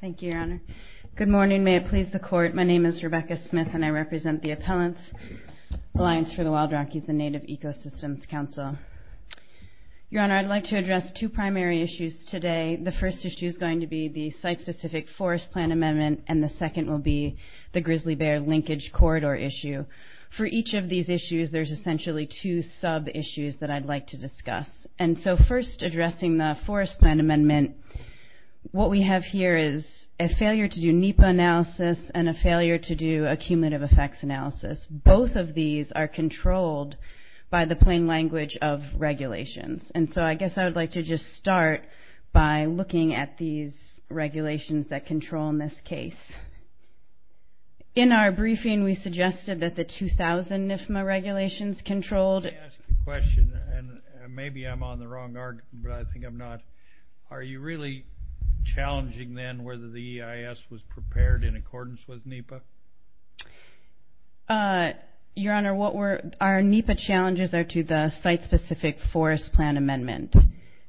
Thank you, Your Honor. Good morning. May it please the court. My name is Rebecca Smith, and I represent the Appellants' Alliance for the Wild Rockies and Native Ecosystems Council. Your Honor, I'd like to address two primary issues today. The first issue is going to be the site-specific forest plan amendment, and the second will be the grizzly bear linkage corridor issue. For each of these issues, there's essentially two sub-issues that I'd like to discuss. First, addressing the forest plan amendment, what we have here is a failure to do NEPA analysis and a failure to do a cumulative effects analysis. Both of these are controlled by the plain language of regulations. I guess I would like to just start by looking at these regulations that control in this case. In our briefing, we suggested that the 2000 NIFMA regulations controlled... Let me ask a question, and maybe I'm on the wrong argument, but I think I'm not. Are you really challenging then whether the EIS was prepared in accordance with NEPA? Your Honor, our NEPA challenges are to the site-specific forest plan amendment.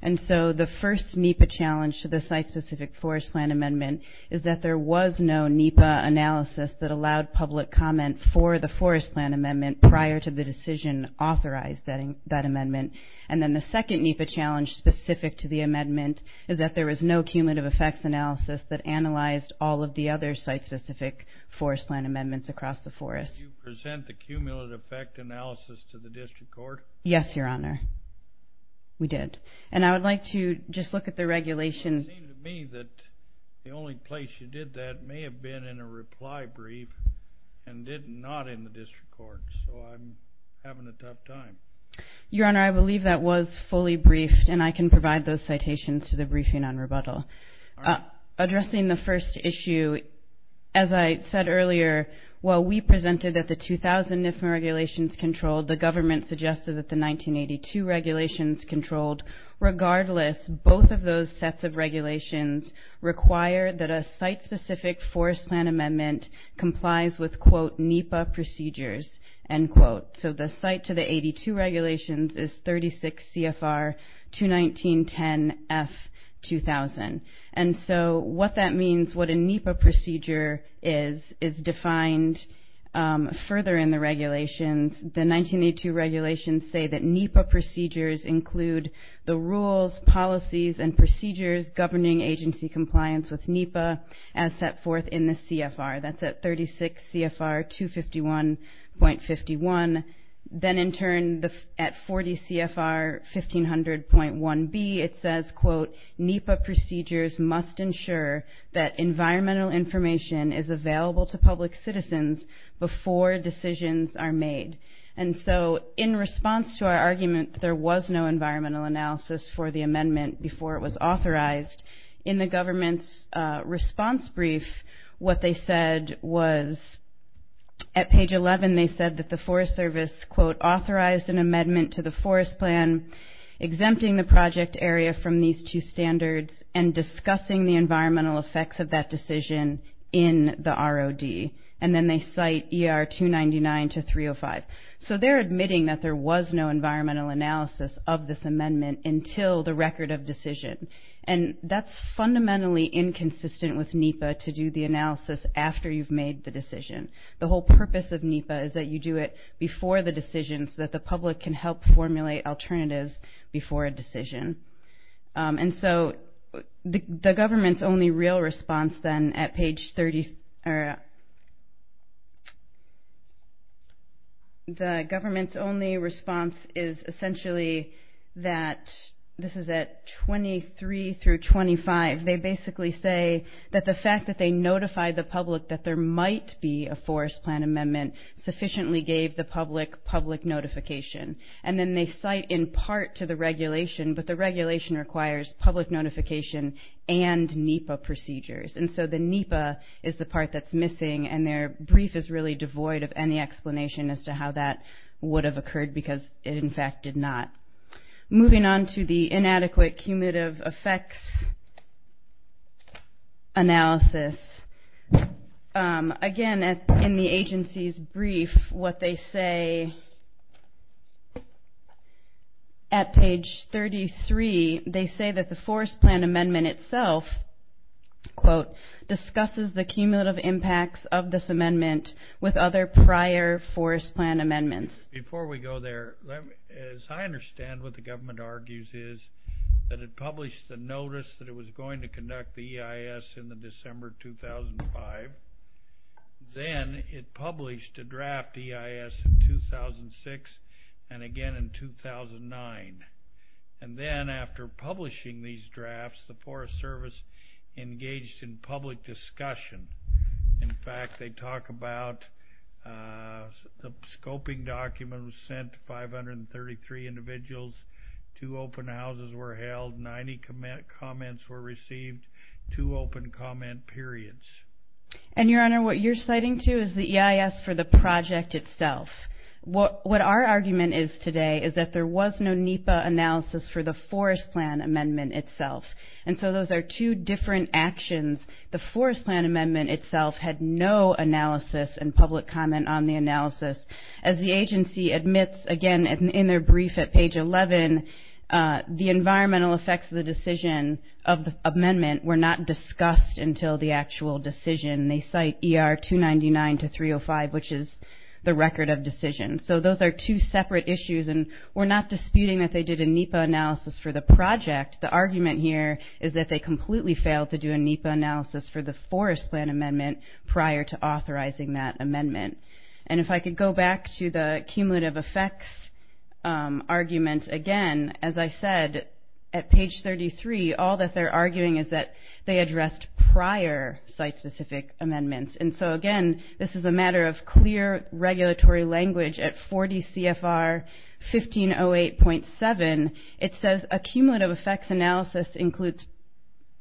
The first NEPA challenge to the site-specific forest plan amendment is that there was no NEPA analysis that allowed public comment for the forest plan amendment prior to the decision authorized that amendment. And then the second NEPA challenge specific to the amendment is that there was no cumulative effects analysis that analyzed all of the other site-specific forest plan amendments across the forest. Did you present the cumulative effect analysis to the district court? Yes, Your Honor. We did. And I would like to just look at the regulation... It seems to me that the only place you did that may have been in a reply brief and did not in the district court, so I'm having a tough time. Your Honor, I believe that was fully briefed, and I can provide those citations to the briefing on rebuttal. Addressing the first issue, as I said earlier, while we presented that the 2000 NIFMA regulations controlled, the government suggested that the 1982 regulations controlled. Regardless, both of those sets of regulations require that a site-specific forest plan amendment complies with, quote, NEPA procedures, end quote. So the site to the 82 regulations is 36 CFR 219.10.F.2000. And so what that means, what a NEPA procedure is, is defined further in the regulations. The 1982 regulations say that NEPA procedures include the rules, policies, and procedures governing agency compliance with NEPA as set forth in the CFR. That's at 36 CFR 251.51. Then in turn, at 40 CFR 1500.1B, it says, quote, NEPA procedures must ensure that environmental information is available to public citizens before decisions are made. And so in response to our argument that there was no environmental analysis for the amendment before it was authorized, in the government's response brief, what they said was, at page 11, they said that the Forest Service, quote, authorized an amendment to the forest plan, exempting the project area from these two standards, and discussing the environmental effects of that decision in the ROD. And then they cite ER 299 to 305. So they're admitting that there was no environmental analysis of this amendment until the record of decision. And that's fundamentally inconsistent with NEPA to do the analysis after you've made the decision. The whole purpose of NEPA is that you do it before the decision so that the public can help formulate alternatives before a decision. And so the government's only real response then at page 30, the government's only response is essentially that, this is at 23 through 25, they basically say that the fact that they notified the public that there might be a forest plan amendment sufficiently gave the public public notification. And then they cite in part to the regulation, but the regulation requires public notification and NEPA procedures. And so the NEPA is the part that's missing, and their brief is really devoid of any explanation as to how that would have occurred because it, in fact, did not. Moving on to the inadequate cumulative effects analysis, again, in the agency's brief, what they say at page 33, they say that the forest plan amendment itself, quote, discusses the cumulative impacts of this amendment with other prior forest plan amendments. Before we go there, as I understand what the government argues is that it published the notice that it was going to conduct the EIS in the December 2005. Then it published a draft EIS in 2006 and again in 2009. And then after publishing these drafts, the Forest Service engaged in public discussion. In fact, they talk about the scoping document was sent to 533 individuals. Two open houses were held. Ninety comments were received. Two open comment periods. And, Your Honor, what you're citing, too, is the EIS for the project itself. What our argument is today is that there was no NEPA analysis for the forest plan amendment itself. And so those are two different actions. The forest plan amendment itself had no analysis and public comment on the analysis. As the agency admits, again, in their brief at page 11, the environmental effects of the decision of the amendment were not discussed until the actual decision. They cite ER 299 to 305, which is the record of decision. So those are two separate issues. And we're not disputing that they did a NEPA analysis for the project. The argument here is that they completely failed to do a NEPA analysis for the forest plan amendment prior to authorizing that amendment. And if I could go back to the cumulative effects argument again, as I said, at page 33, all that they're arguing is that they addressed prior site-specific amendments. And so, again, this is a matter of clear regulatory language at 40 CFR 1508.7. It says a cumulative effects analysis includes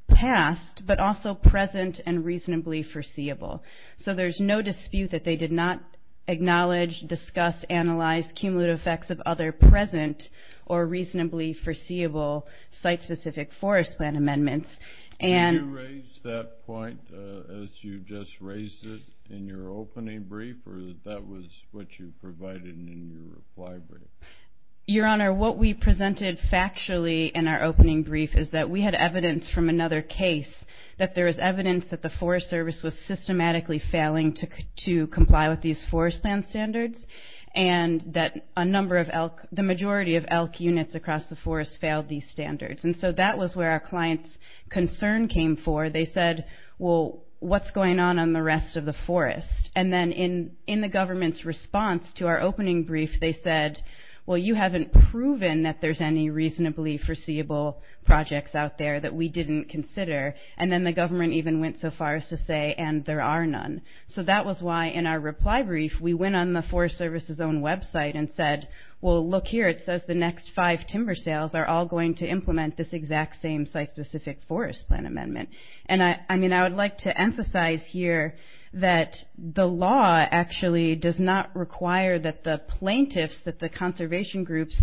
past but also present and reasonably foreseeable. So there's no dispute that they did not acknowledge, discuss, analyze cumulative effects of other present or reasonably foreseeable site-specific forest plan amendments. Did you raise that point as you just raised it in your opening brief or that that was what you provided in your reply brief? Your Honor, what we presented factually in our opening brief is that we had evidence from another case that there is evidence that the Forest Service was systematically failing to comply with these forest land standards and that a number of elk, the majority of elk units across the forest failed these standards. And so that was where our client's concern came for. They said, well, what's going on on the rest of the forest? And then in the government's response to our opening brief, they said, well, you haven't proven that there's any reasonably foreseeable projects out there that we didn't consider. And then the government even went so far as to say, and there are none. So that was why in our reply brief, we went on the Forest Service's own website and said, well, look here, it says the next five timber sales are all going to implement this exact same site-specific forest land amendment. And, I mean, I would like to emphasize here that the law actually does not require that the plaintiffs, that the conservation groups,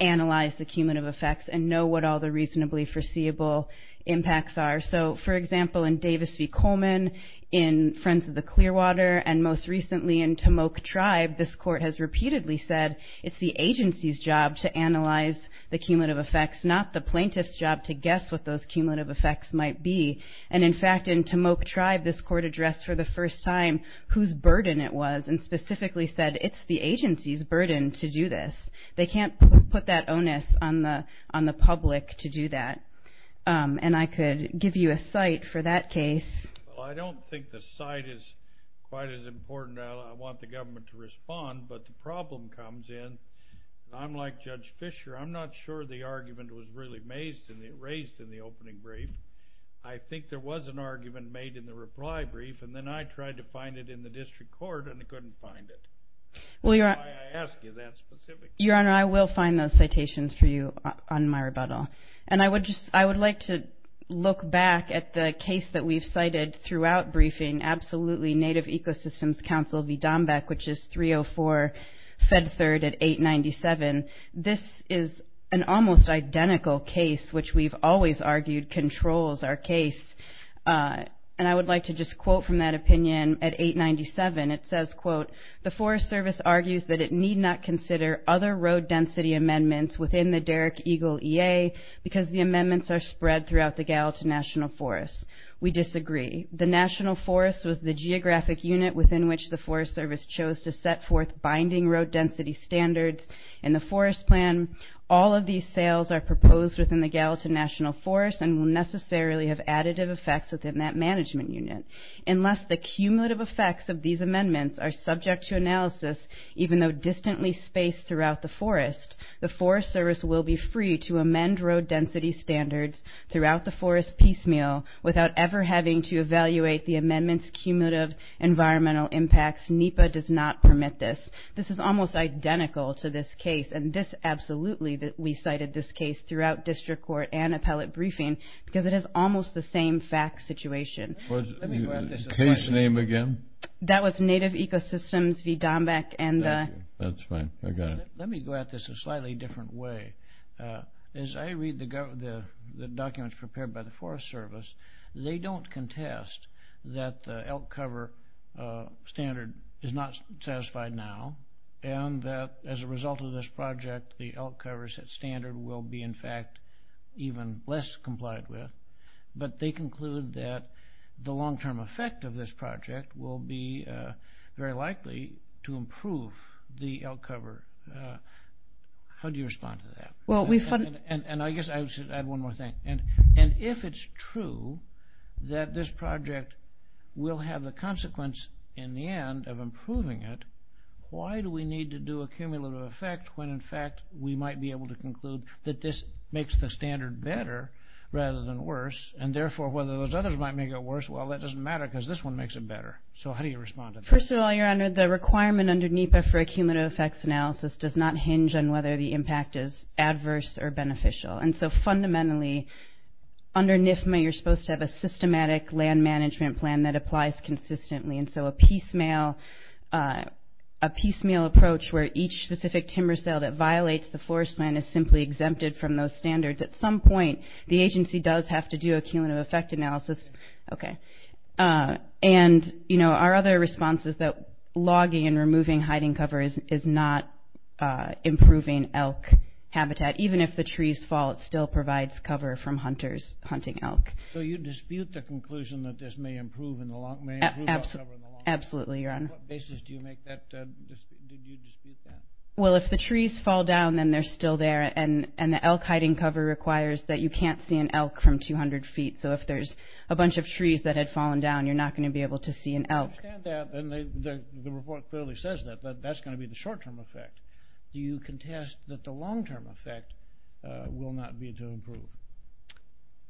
analyze the cumulative effects and know what all the reasonably foreseeable impacts are. So, for example, in Davis v. Coleman, in Friends of the Clearwater, and most recently in Tomoak Tribe, this court has repeatedly said it's the agency's job to analyze the cumulative effects, not the plaintiff's job to guess what those cumulative effects might be. And, in fact, in Tomoak Tribe, this court addressed for the first time whose burden it was and specifically said it's the agency's burden to do this. They can't put that onus on the public to do that. And I could give you a site for that case. Well, I don't think the site is quite as important. I want the government to respond, but the problem comes in. I'm like Judge Fisher. I'm not sure the argument was really raised in the opening brief. I think there was an argument made in the reply brief, and then I tried to find it in the district court, and I couldn't find it. That's why I ask you that specific question. Your Honor, I will find those citations for you on my rebuttal. And I would like to look back at the case that we've cited throughout briefing, absolutely Native Ecosystems Council v. Dombeck, which is 304 Fed Third at 897. This is an almost identical case, which we've always argued controls our case. And I would like to just quote from that opinion at 897. It says, quote, The Forest Service argues that it need not consider other road density amendments within the Derrick Eagle EA because the amendments are spread throughout the Gallatin National Forest. We disagree. The National Forest was the geographic unit within which the Forest Service chose to set forth binding road density standards. In the Forest Plan, all of these sales are proposed within the Gallatin National Forest and will necessarily have additive effects within that management unit. Unless the cumulative effects of these amendments are subject to analysis, even though distantly spaced throughout the forest, the Forest Service will be free to amend road density standards throughout the forest piecemeal without ever having to evaluate the amendments' cumulative environmental impacts. NEPA does not permit this. This is almost identical to this case, and this absolutely that we cited this case throughout district court and appellate briefing because it is almost the same fact situation. Case name again? That was Native Ecosystems v. Dombeck. That's fine. I got it. Let me go at this a slightly different way. As I read the documents prepared by the Forest Service, they don't contest that the elk cover standard is not satisfied now and that as a result of this project the elk cover standard will be in fact even less complied with, but they conclude that the long-term effect of this project will be very likely to improve the elk cover. How do you respond to that? I guess I should add one more thing. If it's true that this project will have the consequence in the end of improving it, why do we need to do a cumulative effect when in fact we might be able to conclude that this makes the standard better rather than worse, and therefore whether those others might make it worse, well, that doesn't matter because this one makes it better. So how do you respond to that? First of all, Your Honor, the requirement under NEPA for a cumulative effects analysis does not hinge on whether the impact is adverse or beneficial. So fundamentally under NIFMA you're supposed to have a systematic land management plan that applies consistently. So a piecemeal approach where each specific timber sale that violates the forest plan is simply exempted from those standards. At some point the agency does have to do a cumulative effect analysis. And our other response is that logging and removing hiding covers is not improving elk habitat. Even if the trees fall, it still provides cover from hunters hunting elk. So you dispute the conclusion that this may improve elk cover in the long run? Absolutely, Your Honor. On what basis did you dispute that? Well, if the trees fall down, then they're still there, and the elk hiding cover requires that you can't see an elk from 200 feet. So if there's a bunch of trees that had fallen down, you're not going to be able to see an elk. I understand that, and the report clearly says that. That's going to be the short-term effect. Do you contest that the long-term effect will not be to improve?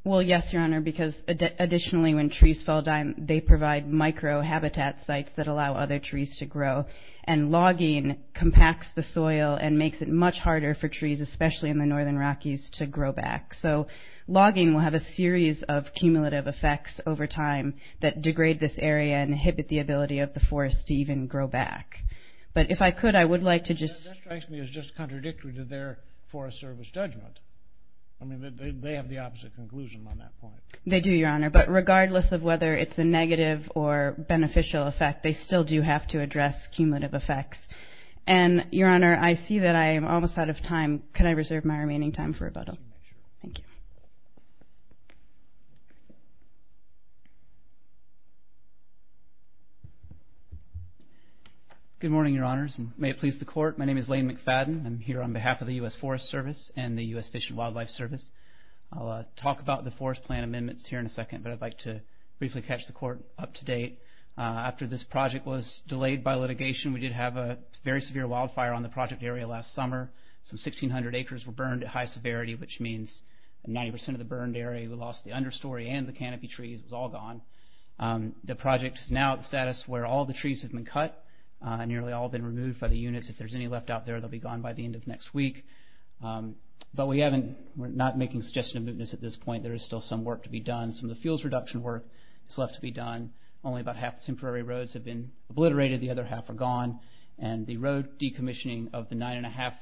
Well, yes, Your Honor, because additionally when trees fall down, they provide micro-habitat sites that allow other trees to grow. And logging compacts the soil and makes it much harder for trees, especially in the northern Rockies, to grow back. So logging will have a series of cumulative effects over time that degrade this area and inhibit the ability of the forest to even grow back. But if I could, I would like to just... That strikes me as just contradictory to their Forest Service judgment. I mean, they have the opposite conclusion on that point. They do, Your Honor, but regardless of whether it's a negative or beneficial effect, they still do have to address cumulative effects. And, Your Honor, I see that I am almost out of time. Could I reserve my remaining time for rebuttal? Thank you. Good morning, Your Honors, and may it please the Court. My name is Lane McFadden. I'm here on behalf of the U.S. Forest Service and the U.S. Fish and Wildlife Service. I'll talk about the forest plan amendments here in a second, but I'd like to briefly catch the Court up to date. After this project was delayed by litigation, we did have a very severe wildfire on the project area last summer. Some 1,600 acres were burned at high severity, which means 90% of the burned area. We lost the understory and the canopy trees. It was all gone. The project is now at the status where all the trees have been cut. Nearly all have been removed by the units. If there's any left out there, they'll be gone by the end of next week. But we haven't...we're not making suggestions of mootness at this point. There is still some work to be done. Some of the fuels reduction work is left to be done. Only about half the temporary roads have been obliterated. The other half are gone. And the road decommissioning of the 9 1⁄2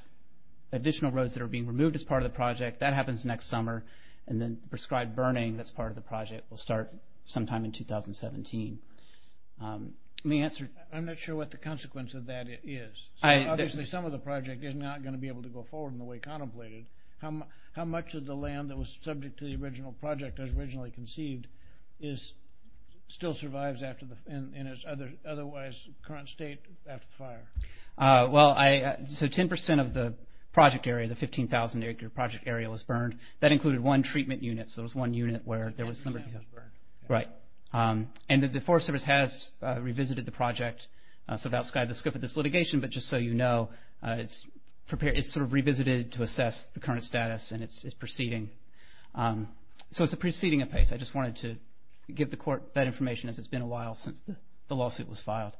additional roads that are being removed as part of the project, that happens next summer. And then prescribed burning that's part of the project will start sometime in 2017. Let me answer... I'm not sure what the consequence of that is. Obviously, some of the project is not going to be able to go forward in the way contemplated. How much of the land that was subject to the original project as originally conceived still survives in its otherwise current state after the fire? Well, 10% of the project area, the 15,000 acre project area was burned. That included one treatment unit. So there was one unit where there was... 10% was burned. Right. And the Forest Service has revisited the project. So that's kind of the scope of this litigation. But just so you know, it's sort of revisited to assess the current status and its proceeding. So it's a proceeding of pace. I just wanted to give the court that information as it's been a while since the lawsuit was filed.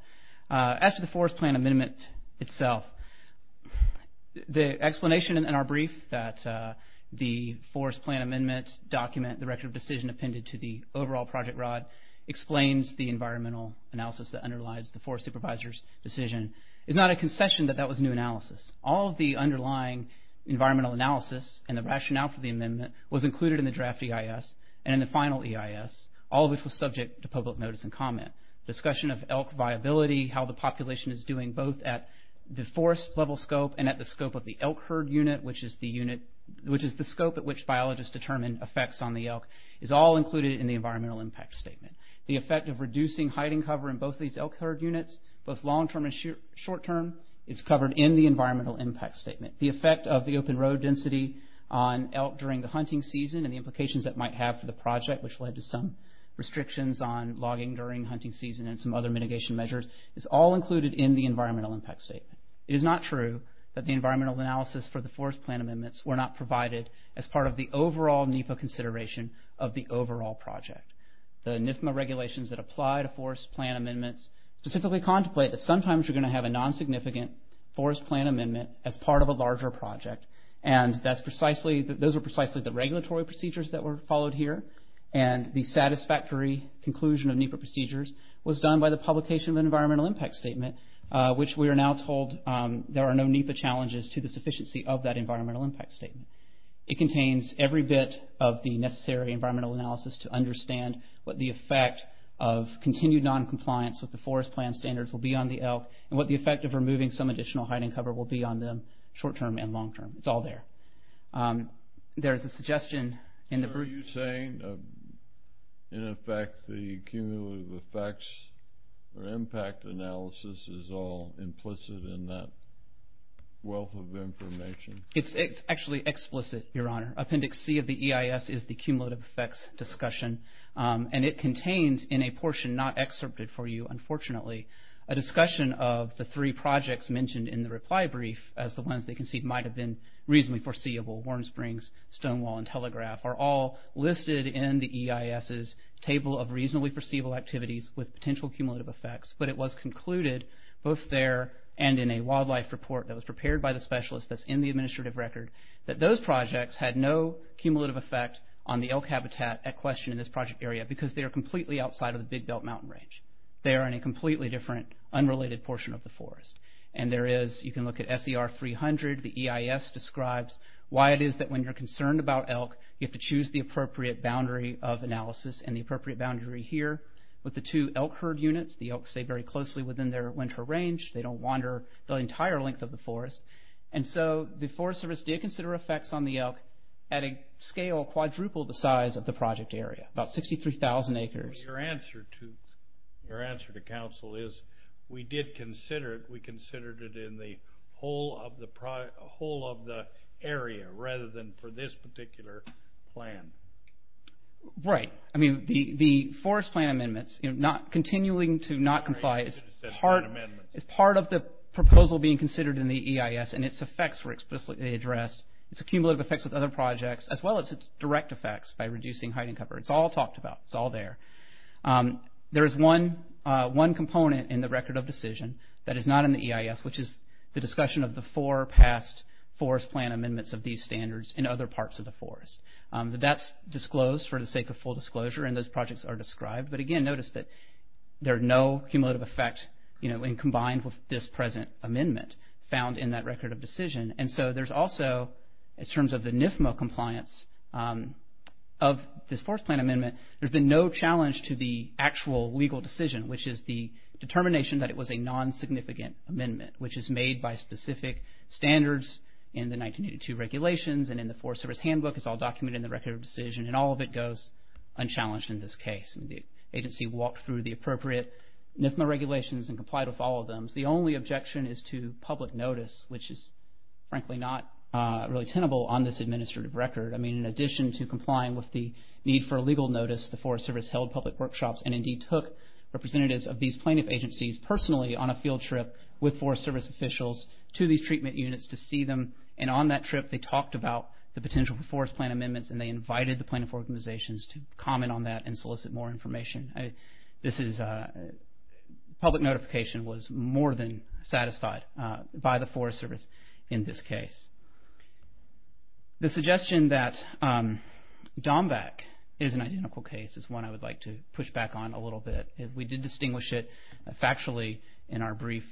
As to the forest plan amendment itself, the explanation in our brief that the forest plan amendment document, the record of decision appended to the overall project rod, explains the environmental analysis that underlies the forest supervisor's decision. It's not a concession that that was new analysis. All of the underlying environmental analysis and the rationale for the amendment was included in the draft EIS and in the final EIS, all of which was subject to public notice and comment. Discussion of elk viability, how the population is doing both at the forest level scope and at the scope of the elk herd unit, which is the scope at which biologists determine effects on the elk, is all included in the environmental impact statement. The effect of reducing hiding cover in both these elk herd units, both long term and short term, is covered in the environmental impact statement. The effect of the open road density on elk during the hunting season and the implications that might have for the project, which led to some restrictions on logging during hunting season and some other mitigation measures, is all included in the environmental impact statement. It is not true that the environmental analysis for the forest plan amendments were not provided as part of the overall NEPA consideration of the overall project. The NIFMA regulations that apply to forest plan amendments specifically contemplate that sometimes you're going to have a non-significant forest plan amendment as part of a larger project. Those are precisely the regulatory procedures that were followed here. The satisfactory conclusion of NEPA procedures was done by the publication of an environmental impact statement, which we are now told there are no NEPA challenges to the sufficiency of that environmental impact statement. It contains every bit of the necessary environmental analysis to understand what the effect of continued non-compliance with the forest plan standards will be on the elk and what the effect of removing some additional hiding cover will be on them short-term and long-term. It's all there. There's a suggestion in the... Are you saying, in effect, the cumulative effects or impact analysis is all implicit in that wealth of information? It's actually explicit, Your Honor. Appendix C of the EIS is the cumulative effects discussion, and it contains in a portion not excerpted for you, unfortunately, a discussion of the three projects mentioned in the reply brief as the ones they concede might have been reasonably foreseeable, Warm Springs, Stonewall, and Telegraph, are all listed in the EIS's table of reasonably foreseeable activities with potential cumulative effects, but it was concluded both there and in a wildlife report that was prepared by the specialist that's in the administrative record that those projects had no cumulative effect on the elk habitat at question in this project area because they are completely outside of the Big Belt Mountain Range. They are in a completely different, unrelated portion of the forest. You can look at SER 300. The EIS describes why it is that when you're concerned about elk, you have to choose the appropriate boundary of analysis and the appropriate boundary here. With the two elk herd units, the elk stay very closely within their winter range. They don't wander the entire length of the forest. The Forest Service did consider effects on the elk at a scale quadruple the size of the project area, about 63,000 acres. Your answer to counsel is we did consider it. We considered it in the whole of the area rather than for this particular plan. Right. The forest plan amendments, continuing to not comply, is part of the proposal being considered in the EIS, and its effects were explicitly addressed. Its cumulative effects with other projects, as well as its direct effects by reducing hiding cover. It's all talked about. It's all there. There is one component in the record of decision that is not in the EIS, which is the discussion of the four past forest plan amendments of these standards in other parts of the forest. That's disclosed for the sake of full disclosure, and those projects are described. Again, notice that there are no cumulative effects when combined with this present amendment found in that record of decision. There's also, in terms of the NIFMA compliance of this forest plan amendment, there's been no challenge to the actual legal decision, which is the determination that it was a non-significant amendment, which is made by specific standards in the 1982 regulations, and in the Forest Service Handbook. It's all documented in the record of decision, and all of it goes unchallenged in this case. The agency walked through the appropriate NIFMA regulations and complied with all of them. The only objection is to public notice, which is frankly not really tenable on this administrative record. In addition to complying with the need for legal notice, the Forest Service held public workshops and indeed took representatives of these plaintiff agencies personally on a field trip with Forest Service officials to these treatment units to see them. On that trip, they talked about the potential for forest plan amendments, and they invited the plaintiff organizations to comment on that and solicit more information. Public notification was more than satisfied by the Forest Service in this case. The suggestion that Dombak is an identical case is one I would like to push back on a little bit. We did distinguish it factually in our brief.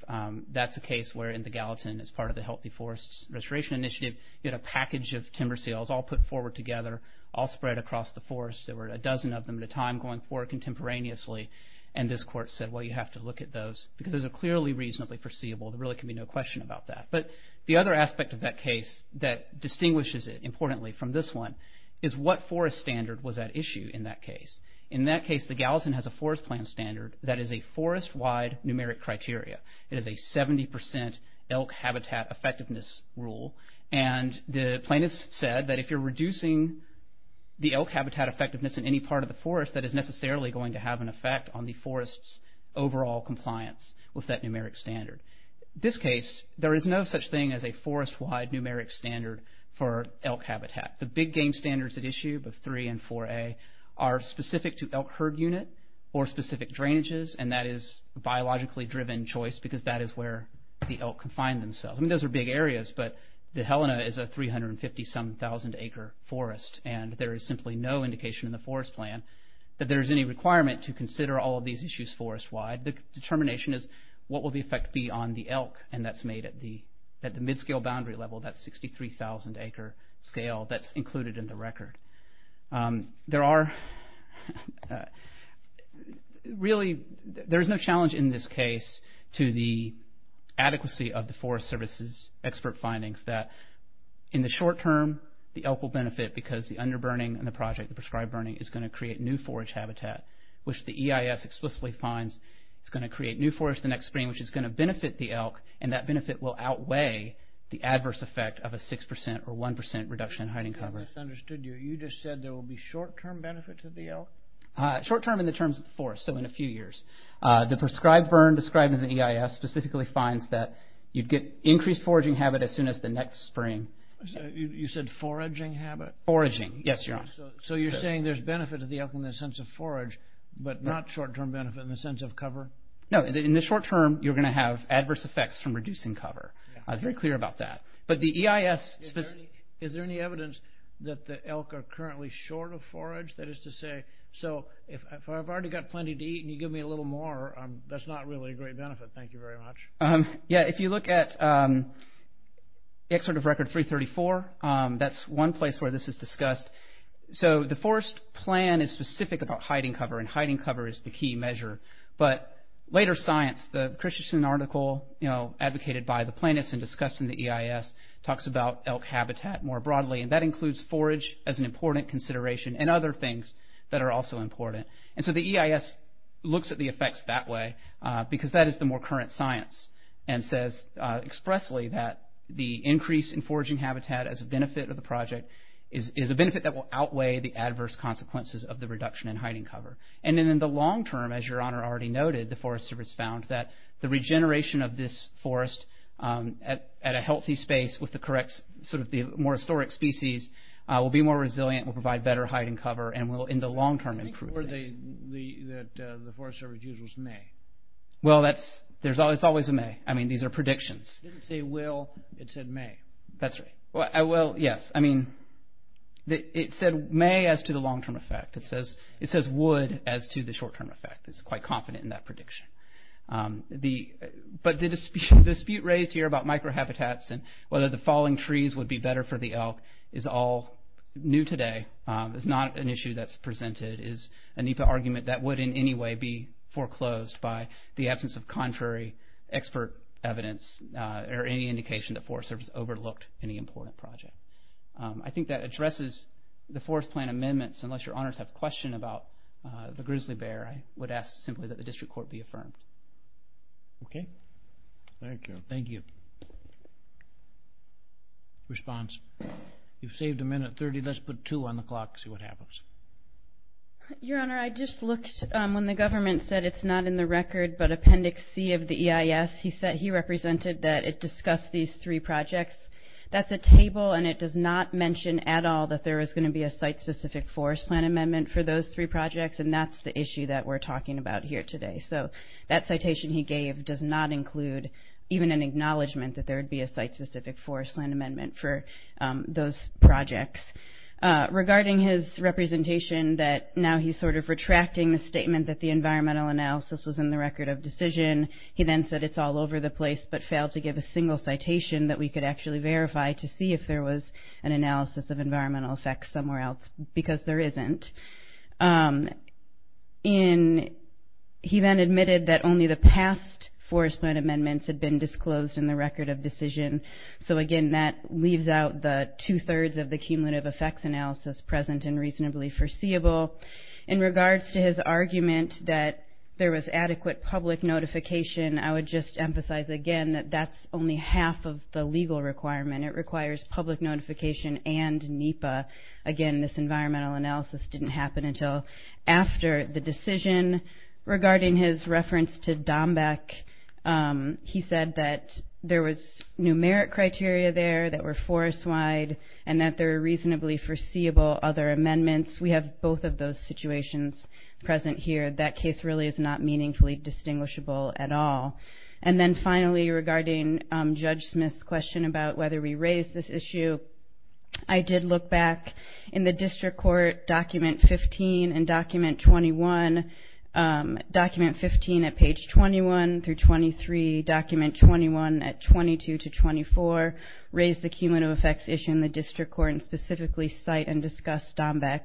That's a case where in the Gallatin, as part of the Healthy Forests Restoration Initiative, you had a package of timber sales all put forward together, all spread across the forest. There were a dozen of them at a time going forward contemporaneously, and this court said, well, you have to look at those because those are clearly reasonably foreseeable. There really can be no question about that. But the other aspect of that case that distinguishes it importantly from this one is what forest standard was at issue in that case. In that case, the Gallatin has a forest plan standard that is a forest-wide numeric criteria. It is a 70% elk habitat effectiveness rule, and the plaintiffs said that if you're reducing the elk habitat effectiveness in any part of the forest, that is necessarily going to have an effect on the forest's overall compliance with that numeric standard. In this case, there is no such thing as a forest-wide numeric standard for elk habitat. The big game standards at issue, the 3 and 4a, are specific to elk herd unit or specific drainages, and that is biologically driven choice because that is where the elk can find themselves. Those are big areas, but the Helena is a 350-some thousand acre forest, and there is simply no indication in the forest plan that there is any requirement to consider all of these issues forest-wide. The determination is what will the effect be on the elk, and that's made at the mid-scale boundary level, that 63,000 acre scale that's included in the record. There is no challenge in this case to the adequacy of the Forest Service's expert findings that in the short term, the elk will benefit because the underburning in the project, the prescribed burning, is going to create new forage habitat, which the EIS explicitly finds is going to create new forage the next spring, which is going to benefit the elk, and that benefit will outweigh the adverse effect of a 6% or 1% reduction in hiding cover. I misunderstood you. You just said there will be short-term benefit to the elk? Short-term in the terms of the forest, so in a few years. The prescribed burn described in the EIS specifically finds that you'd get increased foraging habit as soon as the next spring. You said foraging habit? Foraging, yes, Your Honor. So you're saying there's benefit to the elk in the sense of forage, but not short-term benefit in the sense of cover? No, in the short term, you're going to have adverse effects from reducing cover. I was very clear about that, but the EIS... Is there any evidence that the elk are currently short of forage? That is to say, so if I've already got plenty to eat and you give me a little more, that's not really a great benefit. Thank you very much. Yeah, if you look at the excerpt of Record 334, that's one place where this is discussed. So the forest plan is specific about hiding cover, and hiding cover is the key measure. But later science, the Christensen article advocated by the planets and discussed in the EIS talks about elk habitat more broadly, and that includes forage as an important consideration and other things that are also important. And so the EIS looks at the effects that way because that is the more current science and says expressly that the increase in foraging habitat as a benefit of the project is a benefit that will outweigh the adverse consequences of the reduction in hiding cover. And then in the long term, as Your Honor already noted, the Forest Service found that the regeneration of this forest at a healthy space with the more historic species will be more resilient, will provide better hiding cover, and will in the long term improve things. The word that the Forest Service used was may. It's always a may. These are predictions. It didn't say will, it said may. That's right. It said may as to the long term effect. It says would as to the short term effect. It's quite confident in that prediction. But the dispute raised here about microhabitats and whether the falling trees would be better for the elk is all new today. It's not an issue that's presented. It's a NEPA argument that would in any way be foreclosed by the absence of contrary expert evidence or any indication that Forest Service overlooked any important project. I think that addresses the Forest Plan amendments. Unless Your Honors have a question about the grizzly bear, I would ask simply that the District Court be affirmed. Okay. Thank you. Response? You've saved a minute thirty. Let's put two on the clock and see what happens. Your Honor, I just looked when the government said it's not in the record but Appendix C of the EIS, he said he represented that it discussed these three projects. That's a table and it does not mention at all that there is going to be a site specific Forest Plan amendment for those three projects and that's the issue that we're talking about here today. So, that citation he gave does not include even an acknowledgement that there would be a site specific Forest Plan amendment for those projects. Regarding his representation that now he's sort of retracting the statement that the environmental analysis was in the record of decision, he then said it's all over the place but failed to give a single citation that we could actually verify to see if there was an analysis of environmental effects somewhere else because there isn't. He then admitted that only the past Forest Plan amendments had been disclosed in the record of decision. So again, that leaves out the two-thirds of the cumulative effects analysis present and reasonably foreseeable. In regards to his argument that there was adequate public notification, I would just emphasize again that that's only half of the legal requirement. It requires public notification and NEPA. Again, this environmental analysis didn't happen until after the decision. Regarding his reference to Dombeck, he said that there was numeric criteria there that were forest-wide and that there were reasonably foreseeable other amendments. We have both of those situations present here. That case really is not meaningfully distinguishable at all. And then finally, regarding Judge Smith's question about whether we raise this issue, I did look back in the District Court document 15 and document 21. Document 15 at page 21 through 23. Document 21 at 22 to 24. Raise the cumulative effects issue in the District Court and specifically cite and discuss Dombeck.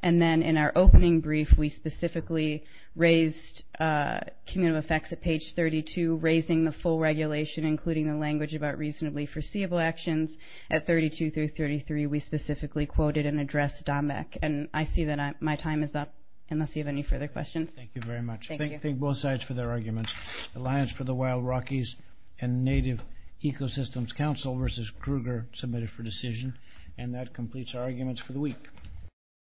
And then in our opening brief, we specifically raised cumulative effects at page 32, raising the full regulation including the language about reasonably foreseeable actions at 32 through 33. We specifically quoted and addressed Dombeck. And I see that my time is up unless you have any further questions. Thank you very much. Thank both sides for their arguments. Alliance for the Wild Rockies and Native Ecosystems Council versus Kruger, submitted for decision. And that completes our arguments for the week.